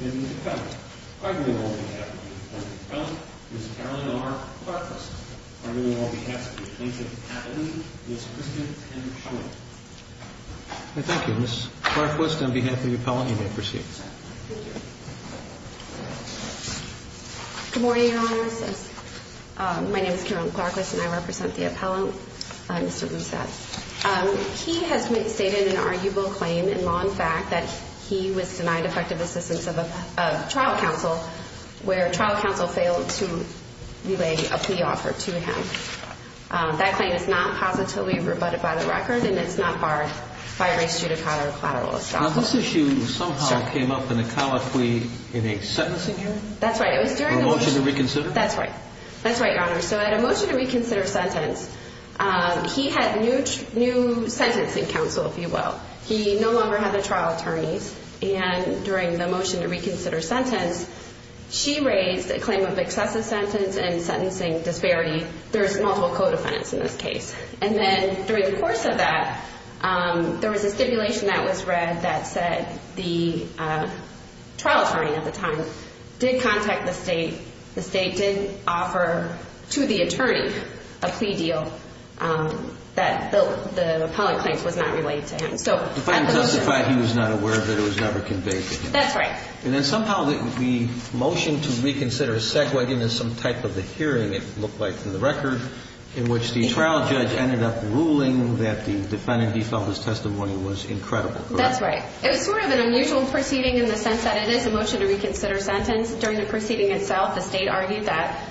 and the appellant. Pardon me on behalf of the plaintiff's appellant, Ms. Carolyn R. Clark Weston. Pardon me on behalf of the plaintiff's Good morning, Your Honor. My name is Carolyn Clark Weston and I represent the appellant, Mr. Luzaj. He has stated an arguable claim in law and fact that he was denied effective assistance of a trial counsel where trial counsel failed to relay a plea offer to him. That claim is not positively rebutted by the record and it's not barred by race, gender, color, or collateral. Now this issue somehow came up in the college plea in a sentencing hearing? That's right. It was during a motion to reconsider? That's right. That's right, Your Honor. So at a motion to reconsider sentence, he had new sentencing counsel, if you will. He no longer had the trial attorneys and during the motion to reconsider sentence, she raised a claim of excessive sentence and sentencing disparity. There's multiple co-defendants in this case. And then during the course of that, there was a stipulation that was read that said the trial attorney at the time did contact the state. The state did offer to the attorney a plea deal that the appellant claims was not related to him. So if I can testify he was not aware of it, it was never conveyed to him? That's right. And then somehow the motion to reconsider segued into some type of a hearing, it looked like, from the record in which the trial judge ended up ruling that the defendant he felt his testimony was incredible, correct? That's right. It was sort of an unusual proceeding in the sense that it is a motion to reconsider sentence. During the proceeding itself, the state argued that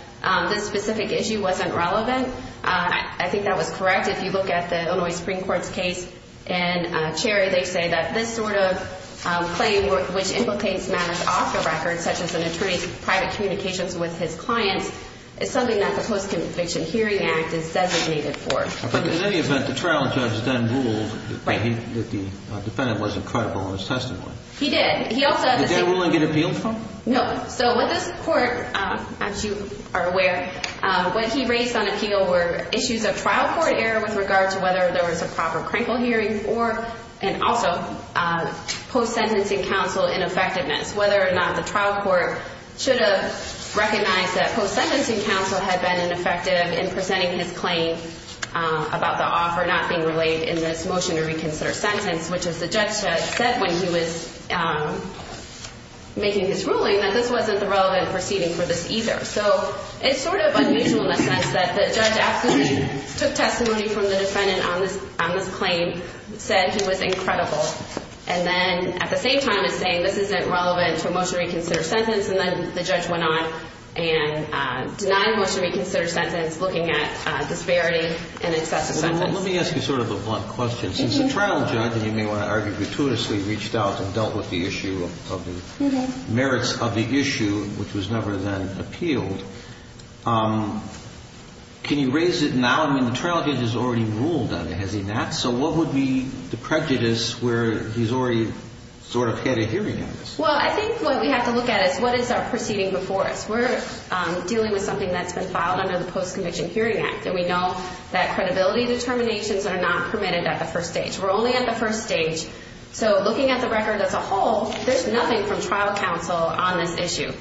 this specific issue wasn't relevant. I think that was correct. If you look at the Illinois Supreme Court's case in Cherry, they say that this sort of claim which implicates matters off the record, such as an attorney's private communications with his clients, is something that the Post-Conviction Hearing Act is designated for. But in any event, the trial judge then ruled that the defendant wasn't credible in his testimony. He did. Did that ruling get appealed for? No. So what this court, as you are aware, what he raised on appeal were issues of trial court error with regard to whether there was a proper Krenkel hearing, and also post-sentencing counsel ineffectiveness, whether or not the trial court should have recognized that post-sentencing counsel had been ineffective in presenting his claim about the offer not being related in this motion to reconsider sentence, which as the judge said when he was making his ruling, that this wasn't the relevant proceeding for this either. So it's sort of unusual in the sense that the judge actually took testimony from the defendant on this claim, said he was incredible, and then at the same time is saying this isn't relevant to a motion to reconsider sentence. And then the judge went on and denied a motion to reconsider sentence, looking at disparity in excessive sentence. Let me ask you sort of a blunt question. Since the trial judge, and you may want to argue gratuitously, reached out and dealt with the issue of the merits of the issue, which was never then appealed, can you raise it now? I mean, the trial judge has already ruled on it, has he not? So what would be the prejudice where he's already sort of had a hearing on this? Well, I think what we have to look at is what is our proceeding before us? We're dealing with something that's been filed under the Post-Conviction Hearing Act, and we know that credibility determinations are not permitted at the first stage. We're only at the first stage. So looking at the record as a whole, there's nothing from trial counsel on this issue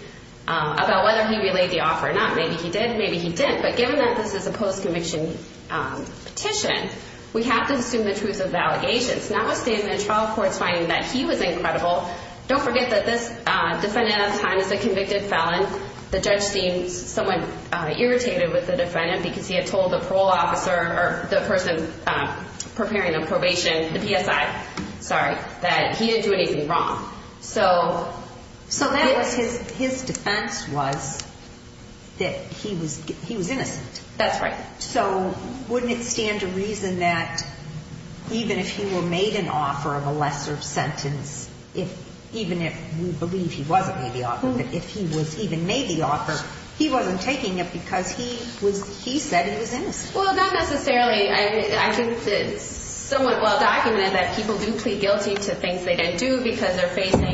about whether he relayed the offer or not. Maybe he did, maybe he didn't. But given that this is a post-conviction petition, we have to assume the truth of the allegations. Now a statement in trial court is finding that he was incredible. Don't forget that this defendant at the time is a convicted felon. The judge seemed somewhat irritated with the defendant because he had told the parole officer or the person preparing the probation, the PSI, sorry, that he didn't do anything wrong. So that was his defense was that he was innocent. That's right. So wouldn't it stand to reason that even if he were made an offer of a lesser sentence, even if we believe he wasn't made the offer, that if he was even made the offer, he wasn't taking it because he said he was innocent? Well, not necessarily. I think it's somewhat well documented that people do plead guilty to things they didn't do because they're facing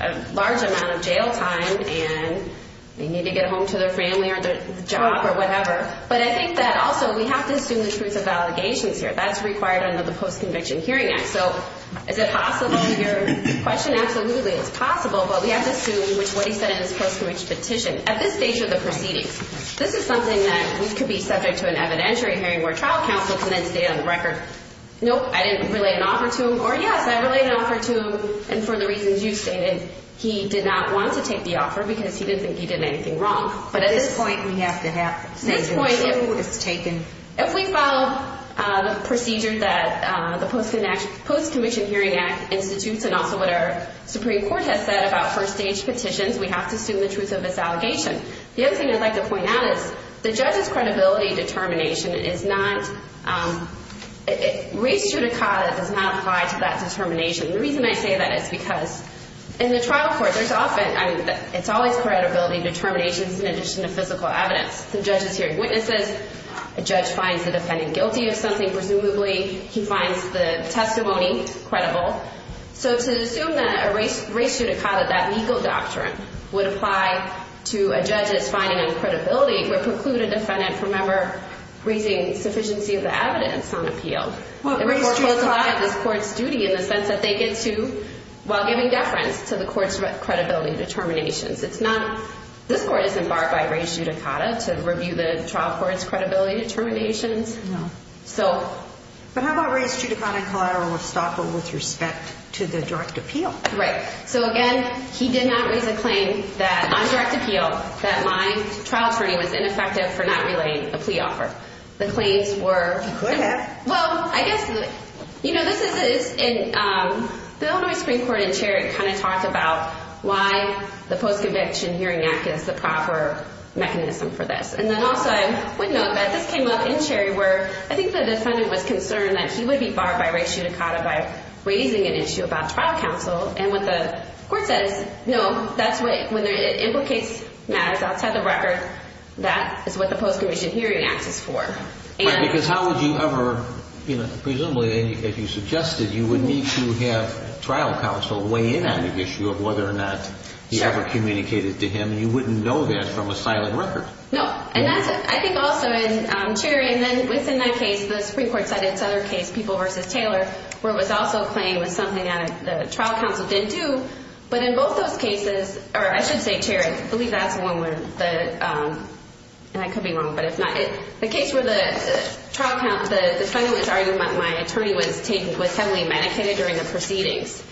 a large amount of jail time and they need to get home to their family or their job or whatever. But I think that also we have to assume the truth of allegations here. That's required under the Post-Conviction Hearing Act. So is it possible? Your question, absolutely, it's possible. But we have to assume what he said in his post-conviction petition. At this stage of the proceedings, this is something that could be subject to an evidentiary hearing where trial counsel can then state on the record, nope, I didn't relay an offer to him, or yes, I relayed an offer to him. And for the reasons you stated, he did not want to take the offer because he didn't think he did anything wrong. But at this point, we have to have stated who was taken. At this point, if we follow the procedure that the Post-Conviction Hearing Act institutes and also what our Supreme Court has said about first-stage petitions, we have to assume the truth of this allegation. The other thing I'd like to point out is the judge's credibility determination is not – res judicata does not apply to that determination. The reason I say that is because in the trial court, there's often – it's always credibility determinations in addition to physical evidence. The judge is hearing witnesses. A judge finds the defendant guilty of something. Presumably, he finds the testimony credible. So to assume that a res judicata, that legal doctrine, would apply to a judge's finding of credibility would preclude a defendant from ever raising sufficiency of the evidence on appeal. It would foreclose a lot of this court's duty in the sense that they get to – while giving deference to the court's credibility determinations. It's not – this court isn't barred by res judicata to review the trial court's credibility determinations. No. So – But how about res judicata collateral with stoppa with respect to the direct appeal? Right. So again, he did not raise a claim that on direct appeal that my trial treaty was ineffective for not relaying a plea offer. The claims were – He could have. Well, I guess – you know, this is in – the Illinois Supreme Court in Cherry kind of talked about why the Post-Conviction Hearing Act is the proper mechanism for this. And then also I would note that this came up in Cherry where I think the defendant was concerned that he would be barred by res judicata by raising an issue about trial counsel. And what the court says, no, that's what – when it implicates matters outside the record, that is what the Post-Conviction Hearing Act is for. Right. Because how would you ever – you know, presumably, as you suggested, you would need to have trial counsel weigh in on the issue of whether or not he ever communicated to him. You wouldn't know that from a silent record. No. And that's – I think also in Cherry and then within that case, the Supreme Court cited this other case, People v. Taylor, where it was also claimed was something that the trial counsel didn't do. But in both those cases – or I should say Cherry. I believe that's the one where the – and I could be wrong. But if not, the case where the trial – the defendant was arguing that my attorney was taking – was heavily medicated during the proceedings.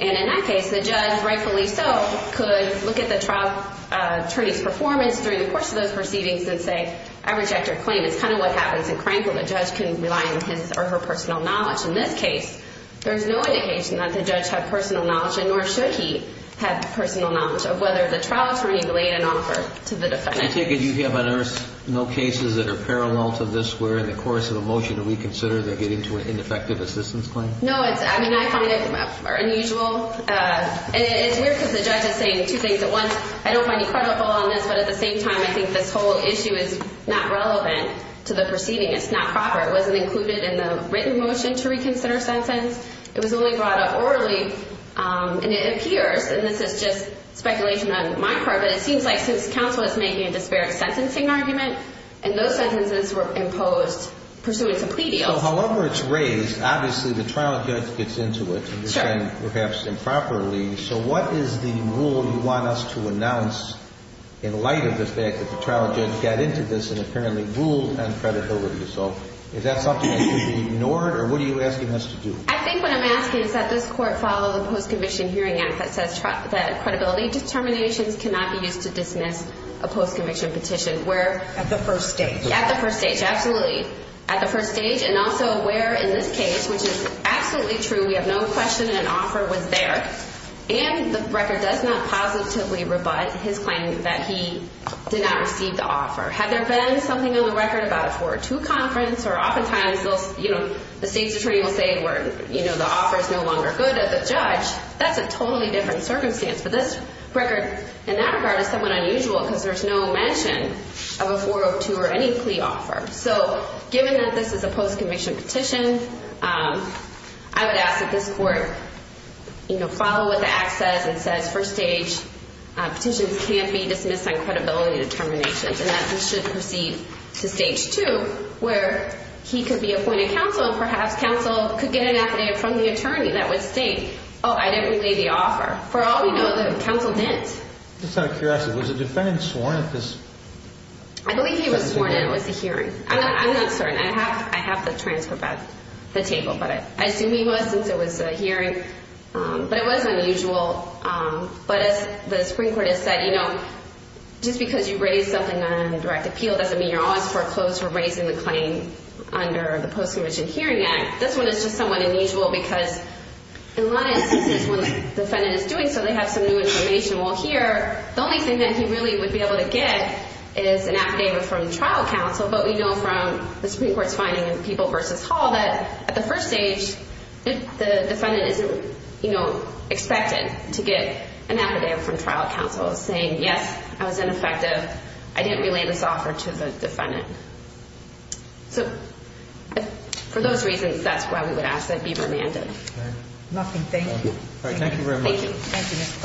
And in that case, the judge, rightfully so, could look at the trial attorney's performance during the course of those proceedings and say, I reject your claim. It's kind of what happens in Crankville. The judge can rely on his or her personal knowledge. In this case, there is no indication that the judge had personal knowledge and nor should he have personal knowledge of whether the trial attorney laid an offer to the defendant. I take it you have on Earth no cases that are parallel to this where, in the course of a motion to reconsider, they get into an ineffective assistance claim? No, it's – I mean, I find it unusual. And it's weird because the judge is saying two things at once. I don't find you credible on this, but at the same time, I think this whole issue is not relevant to the proceeding. It's not proper. It wasn't included in the written motion to reconsider sentence. It was only brought up orally. And it appears – and this is just speculation on my part – but it seems like since counsel is making a disparate sentencing argument, and those sentences were imposed pursuant to plea deals. So however it's raised, obviously the trial judge gets into it. Sure. And perhaps improperly. So what is the rule you want us to announce in light of the fact that the trial judge got into this and apparently ruled on credibility? So is that something that should be ignored, or what are you asking us to do? I think what I'm asking is that this Court follow the Post-Conviction Hearing Act that says that credibility determinations cannot be used to dismiss a post-conviction petition. Where? At the first stage. At the first stage, absolutely. At the first stage, and also where in this case, which is absolutely true, we have no question an offer was there, and the record does not positively rebut his claim that he did not receive the offer. Had there been something on the record about a 402 conference, or oftentimes the state's attorney will say the offer is no longer good at the judge, that's a totally different circumstance. But this record in that regard is somewhat unusual because there's no mention of a 402 or any plea offer. So given that this is a post-conviction petition, I would ask that this Court follow what the Act says. It says first stage, petitions can't be dismissed on credibility determinations, and that he should proceed to stage two where he could be appointed counsel, and perhaps counsel could get an affidavit from the attorney that would state, oh, I didn't relay the offer. For all we know, the counsel didn't. Just out of curiosity, was the defendant sworn at this? I believe he was sworn in at the hearing. I'm not certain. I have the transcript at the table, but I assume he was since it was a hearing. But it was unusual. But as the Supreme Court has said, just because you raise something on direct appeal doesn't mean you're always foreclosed from raising the claim under the Post-Conviction Hearing Act. This one is just somewhat unusual because in a lot of instances when the defendant is doing so, they have some new information. Well, here, the only thing that he really would be able to get is an affidavit from trial counsel. But we know from the Supreme Court's finding in People v. Hall that at the first stage, the defendant isn't expected to get an affidavit from trial counsel saying, yes, I was ineffective, I didn't relay this offer to the defendant. So for those reasons, that's why we would ask that it be remanded. Nothing. Thank you. All right. Thank you very much. Thank you. Thank you, Mr.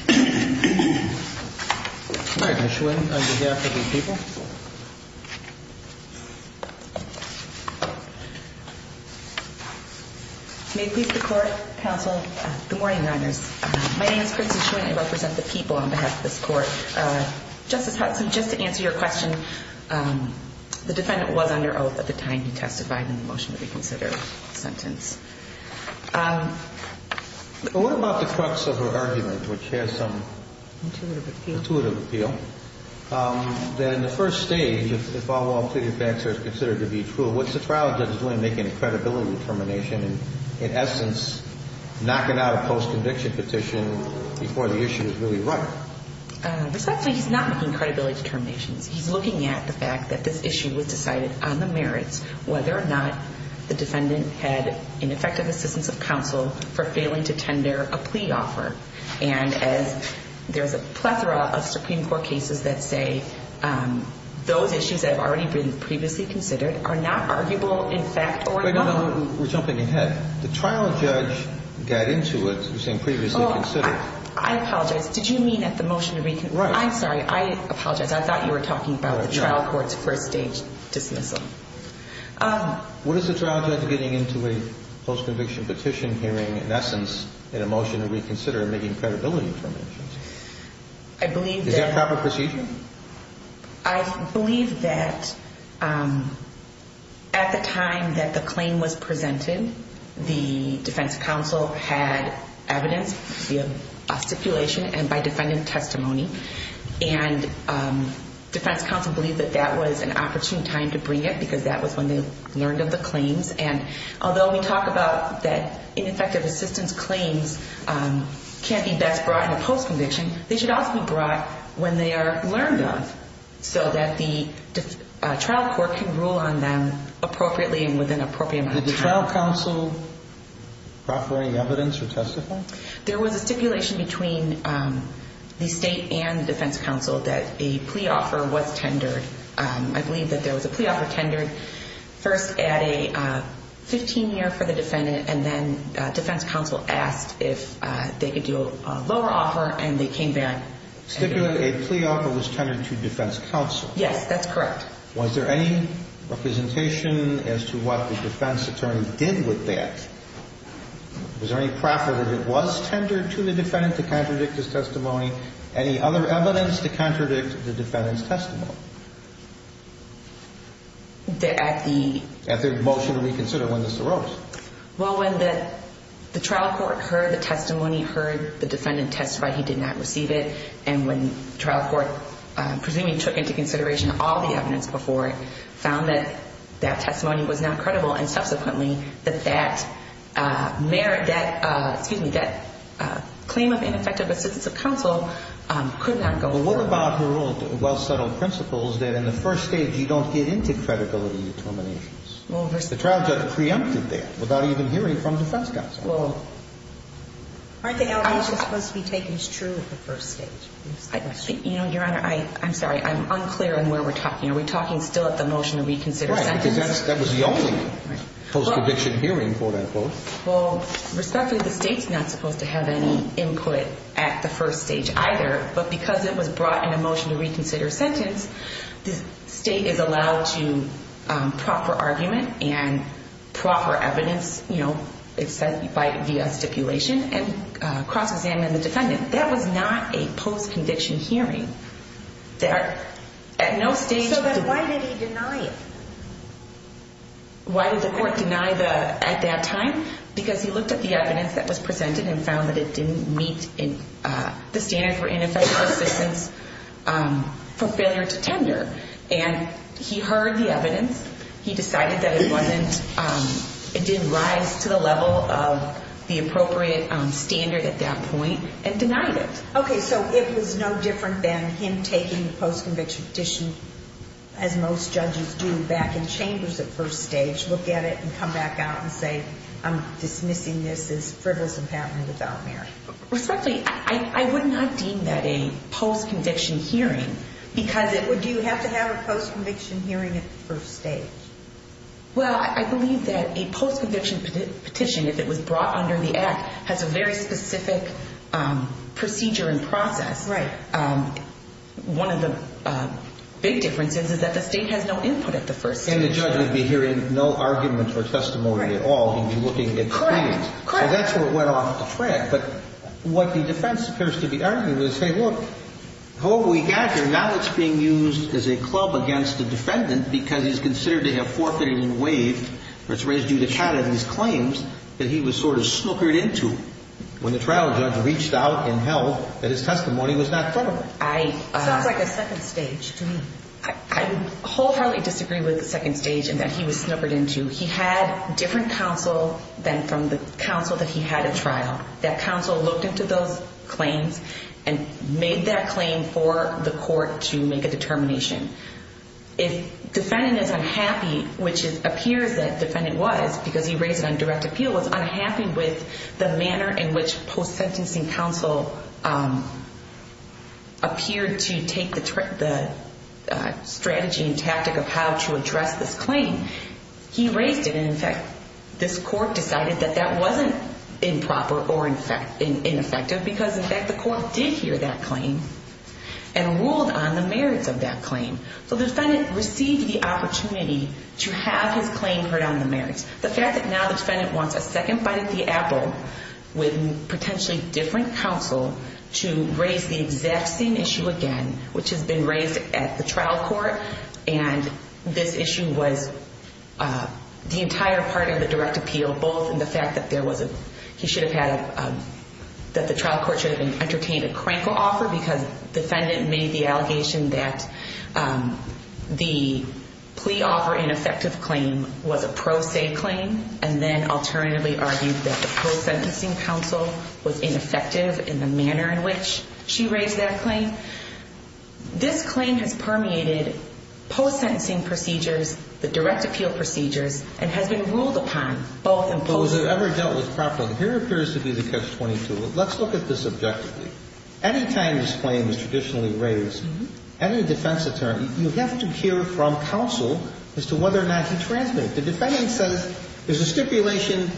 Parkwood. All right. Ms. Schwinn, on behalf of the people. May it please the Court, counsel, good morning, Your Honors. My name is Princess Schwinn. I represent the people on behalf of this Court. Justice Hudson, just to answer your question, the defendant was under oath at the time he testified in the motion to reconsider sentence. But what about the crux of her argument, which has some intuitive appeal, that in the first stage, if all well pleaded facts are considered to be true, what's the trial judge doing making a credibility determination and, in essence, knocking out a post-conviction petition before the issue is really right? Respectfully, he's not making credibility determinations. He's looking at the fact that this issue was decided on the merits, whether or not the defendant had ineffective assistance of counsel for failing to tender a plea offer. And there's a plethora of Supreme Court cases that say those issues that have already been previously considered are not arguable in fact or in law. Wait a minute. We're jumping ahead. The trial judge got into it, you're saying previously considered. I apologize. Did you mean at the motion to reconsider? I'm sorry. I apologize. I thought you were talking about the trial court's first stage dismissal. What is the trial judge getting into a post-conviction petition hearing, in essence, in a motion to reconsider making credibility determinations? Is that proper procedure? I believe that at the time that the claim was presented, the defense counsel had evidence via stipulation and by defendant testimony. And defense counsel believed that that was an opportune time to bring it because that was when they learned of the claims. And although we talk about that ineffective assistance claims can't be best brought in a post-conviction, they should also be brought when they are learned of so that the trial court can rule on them appropriately and within an appropriate amount of time. Did the trial counsel proffer any evidence or testify? There was a stipulation between the state and the defense counsel that a plea offer was tendered. I believe that there was a plea offer tendered first at a 15-year for the defendant, and then defense counsel asked if they could do a lower offer, and they came back. A plea offer was tendered to defense counsel? Yes, that's correct. Was there any representation as to what the defense attorney did with that? Was there any proffer that it was tendered to the defendant to contradict his testimony? Any other evidence to contradict the defendant's testimony? At the motion that we considered when this arose? Well, when the trial court heard the testimony, heard the defendant testify he did not receive it, and when trial court presumably took into consideration all the evidence before it, that testimony was not credible, and subsequently that claim of ineffective assistance of counsel could not go forward. Well, what about her old well-settled principles that in the first stage you don't get into credibility determinations? The trial judge preempted that without even hearing from defense counsel. Well, aren't the allegations supposed to be taken as true at the first stage? Your Honor, I'm sorry. I'm unclear on where we're talking. Are we talking still at the motion to reconsider sentence? Right, because that was the only post-conviction hearing, quote-unquote. Well, respectfully, the state's not supposed to have any input at the first stage either, but because it was brought in a motion to reconsider sentence, the state is allowed to proffer argument and proffer evidence, you know, via stipulation and cross-examine the defendant. That was not a post-conviction hearing. So then why did he deny it? Why did the court deny it at that time? Because he looked at the evidence that was presented and found that it didn't meet the standard for ineffective assistance for failure to tender. And he heard the evidence. He decided that it didn't rise to the level of the appropriate standard at that point and denied it. Okay, so it was no different than him taking a post-conviction petition, as most judges do, back in chambers at first stage, look at it and come back out and say, I'm dismissing this as frivolous and patently without merit. Respectfully, I would not deem that a post-conviction hearing because it would— Do you have to have a post-conviction hearing at the first stage? Well, I believe that a post-conviction petition, if it was brought under the Act, has a very specific procedure and process. Right. One of the big differences is that the state has no input at the first stage. And the judge would be hearing no argument or testimony at all. He'd be looking at the claims. Correct, correct. So that's where it went off the track. But what the defense appears to be arguing is, hey, look, however we got here, now it's being used as a club against the defendant because he's considered to have forfeited and waived, or it's raised due to candidate's claims that he was sort of snookered into when the trial judge reached out and held that his testimony was not credible. Sounds like a second stage to me. I wholeheartedly disagree with the second stage and that he was snookered into. He had different counsel than from the counsel that he had at trial. That counsel looked into those claims and made that claim for the court to make a determination. If defendant is unhappy, which it appears that defendant was because he raised it on direct appeal, was unhappy with the manner in which post-sentencing counsel appeared to take the strategy and tactic of how to address this claim, he raised it and, in fact, this court decided that that wasn't improper or ineffective because, in fact, the court did hear that claim and ruled on the merits of that claim. So the defendant received the opportunity to have his claim heard on the merits. The fact that now the defendant wants a second bite at the apple with potentially different counsel to raise the exact same issue again, which has been raised at the trial court, and this issue was the entire part of the direct appeal, both in the fact that the trial court should have entertained a crankier offer because defendant made the allegation that the plea offer ineffective claim was a pro se claim and then alternatively argued that the post-sentencing counsel was ineffective in the manner in which she raised that claim. This claim has permeated post-sentencing procedures, the direct appeal procedures, and has been ruled upon both in post- But was it ever dealt with properly? Here appears to be the catch-22. Let's look at this objectively. Any time this claim is traditionally raised, any defense attorney, you have to hear from counsel as to whether or not he transmitted it. The defendant says there's a stipulation.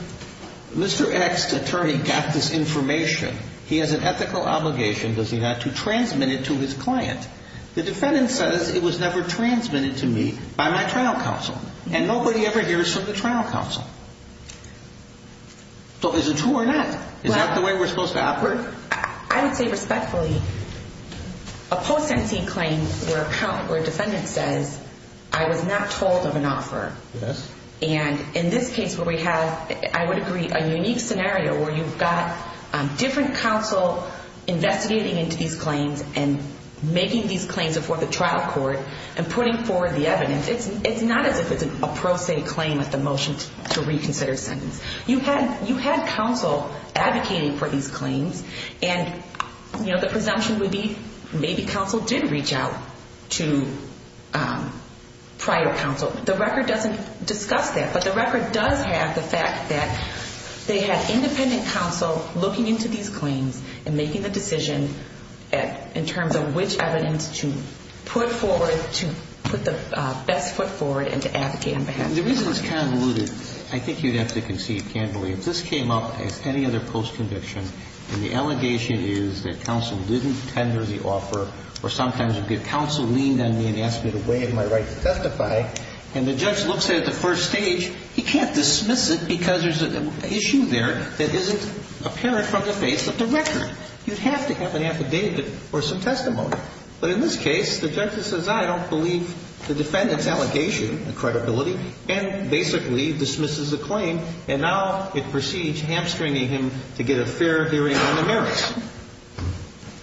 Mr. X's attorney got this information. He has an ethical obligation, does he not, to transmit it to his client. The defendant says it was never transmitted to me by my trial counsel, and nobody ever hears from the trial counsel. So is it true or not? Is that the way we're supposed to operate? I would say respectfully, a post-sentencing claim where a defendant says, I was not told of an offer. Yes. And in this case where we have, I would agree, a unique scenario where you've got different counsel investigating into these claims and making these claims before the trial court and putting forward the evidence, it's not as if it's a pro se claim at the motion to reconsider a sentence. You had counsel advocating for these claims, and the presumption would be maybe counsel did reach out to prior counsel. The record doesn't discuss that, but the record does have the fact that they had independent counsel looking into these claims and making the decision in terms of which evidence to put forward, to put the best foot forward and to advocate on behalf of the defendant. The reason it's convoluted, I think you'd have to concede, Cambly, if this came up as any other post-conviction and the allegation is that counsel didn't tender the offer or sometimes you'd get counsel leaned on me and asked me to weigh in my right to testify, and the judge looks at it at the first stage, he can't dismiss it because there's an issue there that isn't apparent from the face of the record. You'd have to have an affidavit or some testimony. But in this case, the judge says, I don't believe the defendant's allegation of credibility and basically dismisses the claim, and now it proceeds hamstringing him to get a fair hearing on the merits.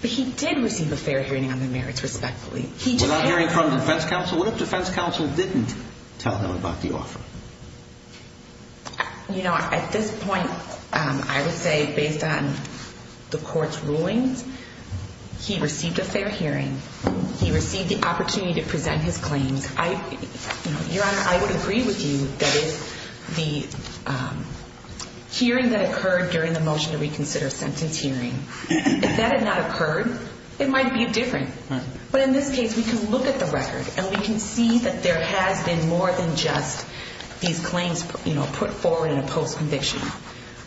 But he did receive a fair hearing on the merits, respectfully. Without hearing from defense counsel? What if defense counsel didn't tell him about the offer? You know, at this point, I would say based on the court's rulings, he received a fair hearing. He received the opportunity to present his claims. Your Honor, I would agree with you that if the hearing that occurred during the motion to reconsider a sentence hearing, if that had not occurred, it might be different. But in this case, we can look at the record and we can see that there has been more than just these claims put forward in a post-conviction.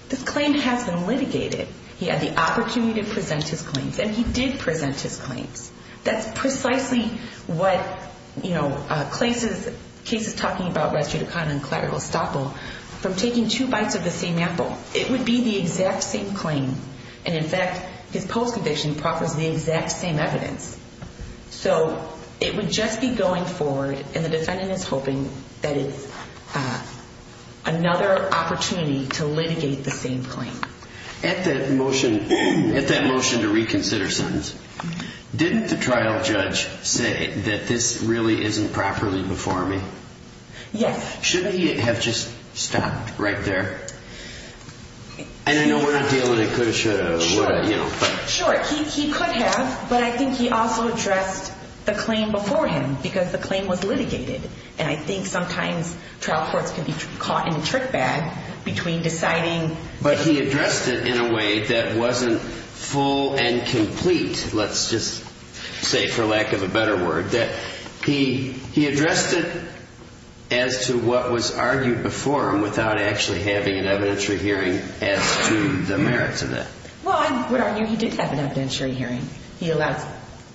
This claim has been litigated. He had the opportunity to present his claims, and he did present his claims. That's precisely what, you know, Claes' case is talking about, res judicata in clerical estoppel, from taking two bites of the same apple. It would be the exact same claim. And, in fact, his post-conviction proffers the exact same evidence. So it would just be going forward, and the defendant is hoping that it's another opportunity to litigate the same claim. At that motion to reconsider a sentence, didn't the trial judge say that this really isn't properly before me? Yes. Shouldn't he have just stopped right there? And I know we're not dealing with a coulda, shoulda, woulda, you know. Sure, he could have, but I think he also addressed the claim before him because the claim was litigated. And I think sometimes trial courts can be caught in a trick bag between deciding but he addressed it in a way that wasn't full and complete, let's just say for lack of a better word, that he addressed it as to what was argued before him without actually having an evidentiary hearing as to the merits of that. Well, I would argue he did have an evidentiary hearing. He allowed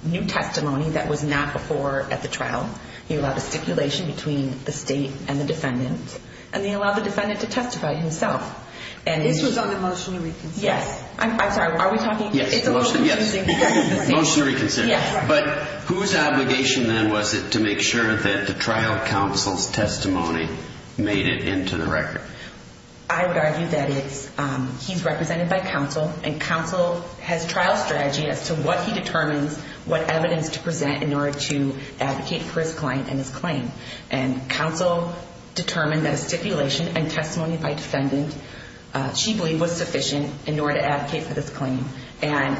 new testimony that was not before at the trial. He allowed a stipulation between the State and the defendant, and he allowed the defendant to testify himself. This was on the motion to reconsider? Yes. I'm sorry, are we talking? It's a little confusing. Motion to reconsider. But whose obligation then was it to make sure that the trial counsel's testimony made it into the record? I would argue that he's represented by counsel, and counsel has trial strategy as to what he determines, what evidence to present in order to advocate for his client and his claim. And counsel determined that a stipulation and testimony by defendant she believed was sufficient in order to advocate for this claim. And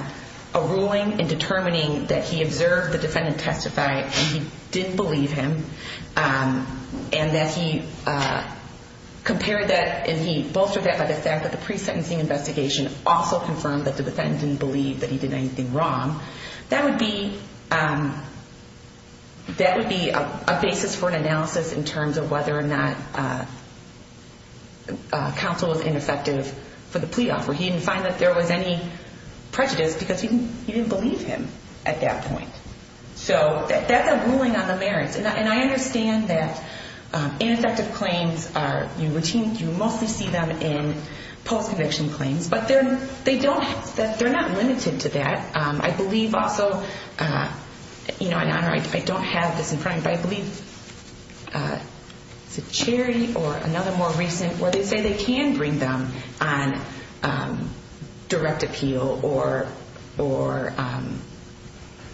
a ruling in determining that he observed the defendant testify and he didn't believe him, and that he compared that and he bolstered that by the fact that the pre-sentencing investigation also confirmed that the defendant didn't believe that he did anything wrong, that would be a basis for an analysis in terms of whether or not counsel was ineffective for the plea offer. He didn't find that there was any prejudice because he didn't believe him at that point. So that's a ruling on the merits, and I understand that ineffective claims are routine. You mostly see them in post-conviction claims, but they're not limited to that. I believe also, you know, and I don't have this in front of me, but I believe it's a charity or another more recent, where they say they can bring them on direct appeal or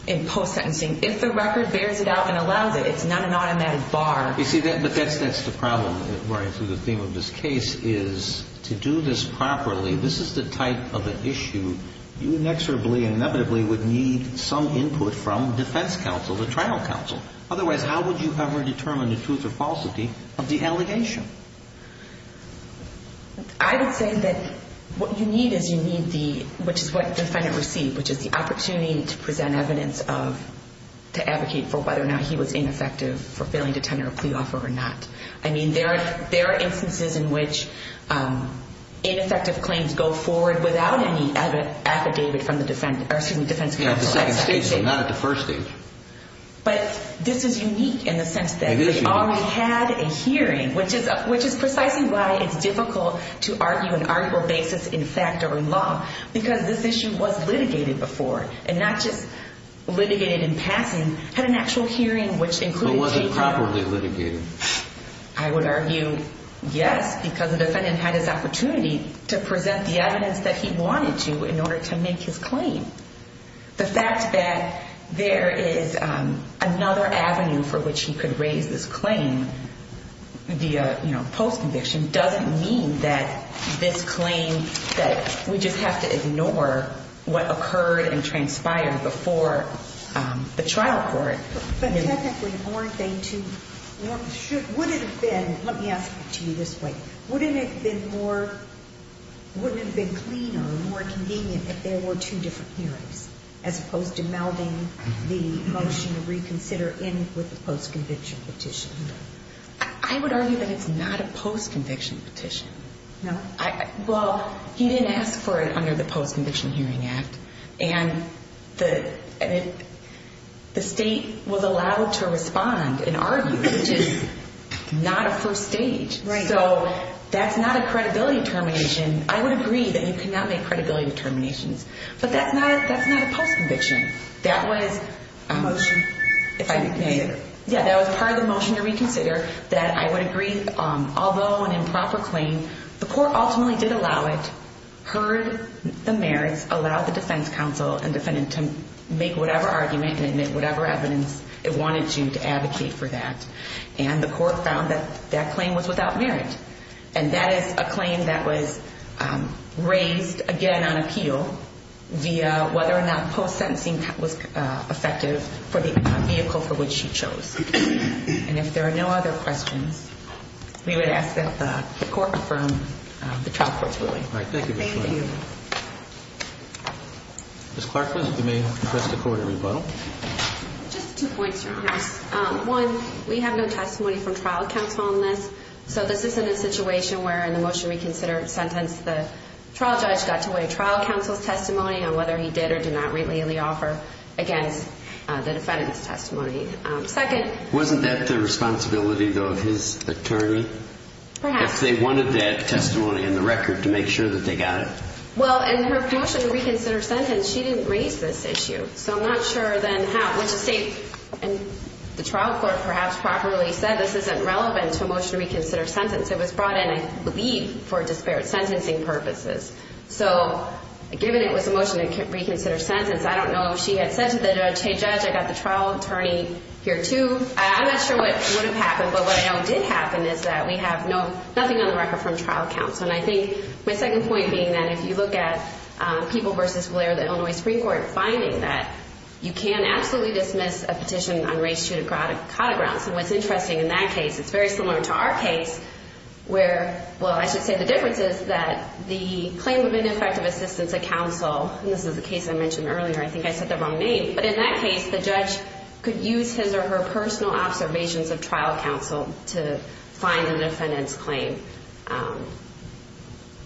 in post-sentencing if the record bears it out and allows it. It's not an automatic bar. You see, but that's the problem, Maureen, through the theme of this case is to do this properly, this is the type of an issue you inexorably and inevitably would need some input from defense counsel, the trial counsel. Otherwise, how would you ever determine the truth or falsity of the allegation? I would say that what you need is you need the, which is what defendant received, which is the opportunity to present evidence of, to advocate for whether or not he was ineffective for failing to tender a plea offer or not. I mean, there are instances in which ineffective claims go forward without any affidavit from the defense counsel. Yeah, at the second stage, but not at the first stage. But this is unique in the sense that they already had a hearing, which is precisely why it's difficult to argue an article basis in fact or in law, because this issue was litigated before, and not just litigated in passing, had an actual hearing which included… But was it properly litigated? I would argue yes, because the defendant had his opportunity to present the evidence that he wanted to in order to make his claim. The fact that there is another avenue for which he could raise this claim via post-conviction doesn't mean that this claim, that we just have to ignore what occurred and transpired before the trial court. But technically, weren't they to, would it have been, let me ask it to you this way, wouldn't it have been cleaner and more convenient if there were two different hearings as opposed to melding the motion to reconsider in with the post-conviction petition? I would argue that it's not a post-conviction petition. Well, he didn't ask for it under the Post-Conviction Hearing Act, and the state was allowed to respond and argue, which is not a first stage. So that's not a credibility determination. I would agree that you cannot make credibility determinations. But that's not a post-conviction. That was part of the motion to reconsider that I would agree, although an improper claim, the court ultimately did allow it, heard the merits, allowed the defense counsel and defendant to make whatever argument and admit whatever evidence it wanted to to advocate for that. And the court found that that claim was without merit, and that is a claim that was raised again on appeal via whether or not post-sentencing was effective for the vehicle for which she chose. And if there are no other questions, we would ask that the court confirm the trial court's ruling. All right. Thank you, Ms. Flynn. Thank you. Ms. Clark, please, if you may press the court to rebuttal. Just two points, Your Honor. One, we have no testimony from trial counsel on this, so this isn't a situation where in the motion to reconsider sentence, the trial judge got to weigh trial counsel's testimony on whether he did or did not readily offer against the defendant's testimony. Second? Wasn't that the responsibility, though, of his attorney? Perhaps. If they wanted that testimony in the record to make sure that they got it. Well, in her motion to reconsider sentence, she didn't raise this issue, so I'm not sure then how, which is safe. And the trial court perhaps properly said this isn't relevant to a motion to reconsider sentence. It was brought in, I believe, for disparate sentencing purposes. So given it was a motion to reconsider sentence, I don't know. She had said to the judge, hey, judge, I got the trial attorney here too. I'm not sure what would have happened, but what I know did happen is that we have nothing on the record from trial counsel. And I think my second point being that if you look at People v. Blair, the Illinois Supreme Court, finding that you can absolutely dismiss a petition on race-judicata grounds. And what's interesting in that case, it's very similar to our case where, well, I should say the difference is that the claim of ineffective assistance of counsel, and this is a case I mentioned earlier, I think I said the wrong name, but in that case the judge could use his or her personal observations of trial counsel to find the defendant's claim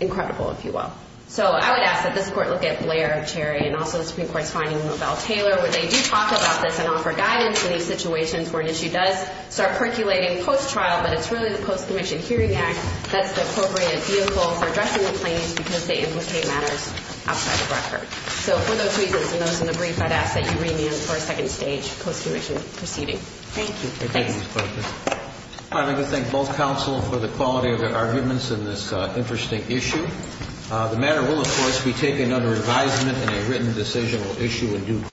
incredible, if you will. So I would ask that this Court look at Blair v. Cherry and also the Supreme Court's finding in LaBelle-Taylor where they do talk about this and offer guidance in these situations where an issue does start percolating post-trial, but it's really the Post-Commission Hearing Act that's the appropriate vehicle for addressing the claims because they implicate matters outside of record. So for those reasons and those in the brief, I'd ask that you remand for a second stage post-commission proceeding. Thank you. Thank you. I'd like to thank both counsel for the quality of their arguments in this interesting issue. The matter will, of course, be taken under advisement and a written decision will issue in due course.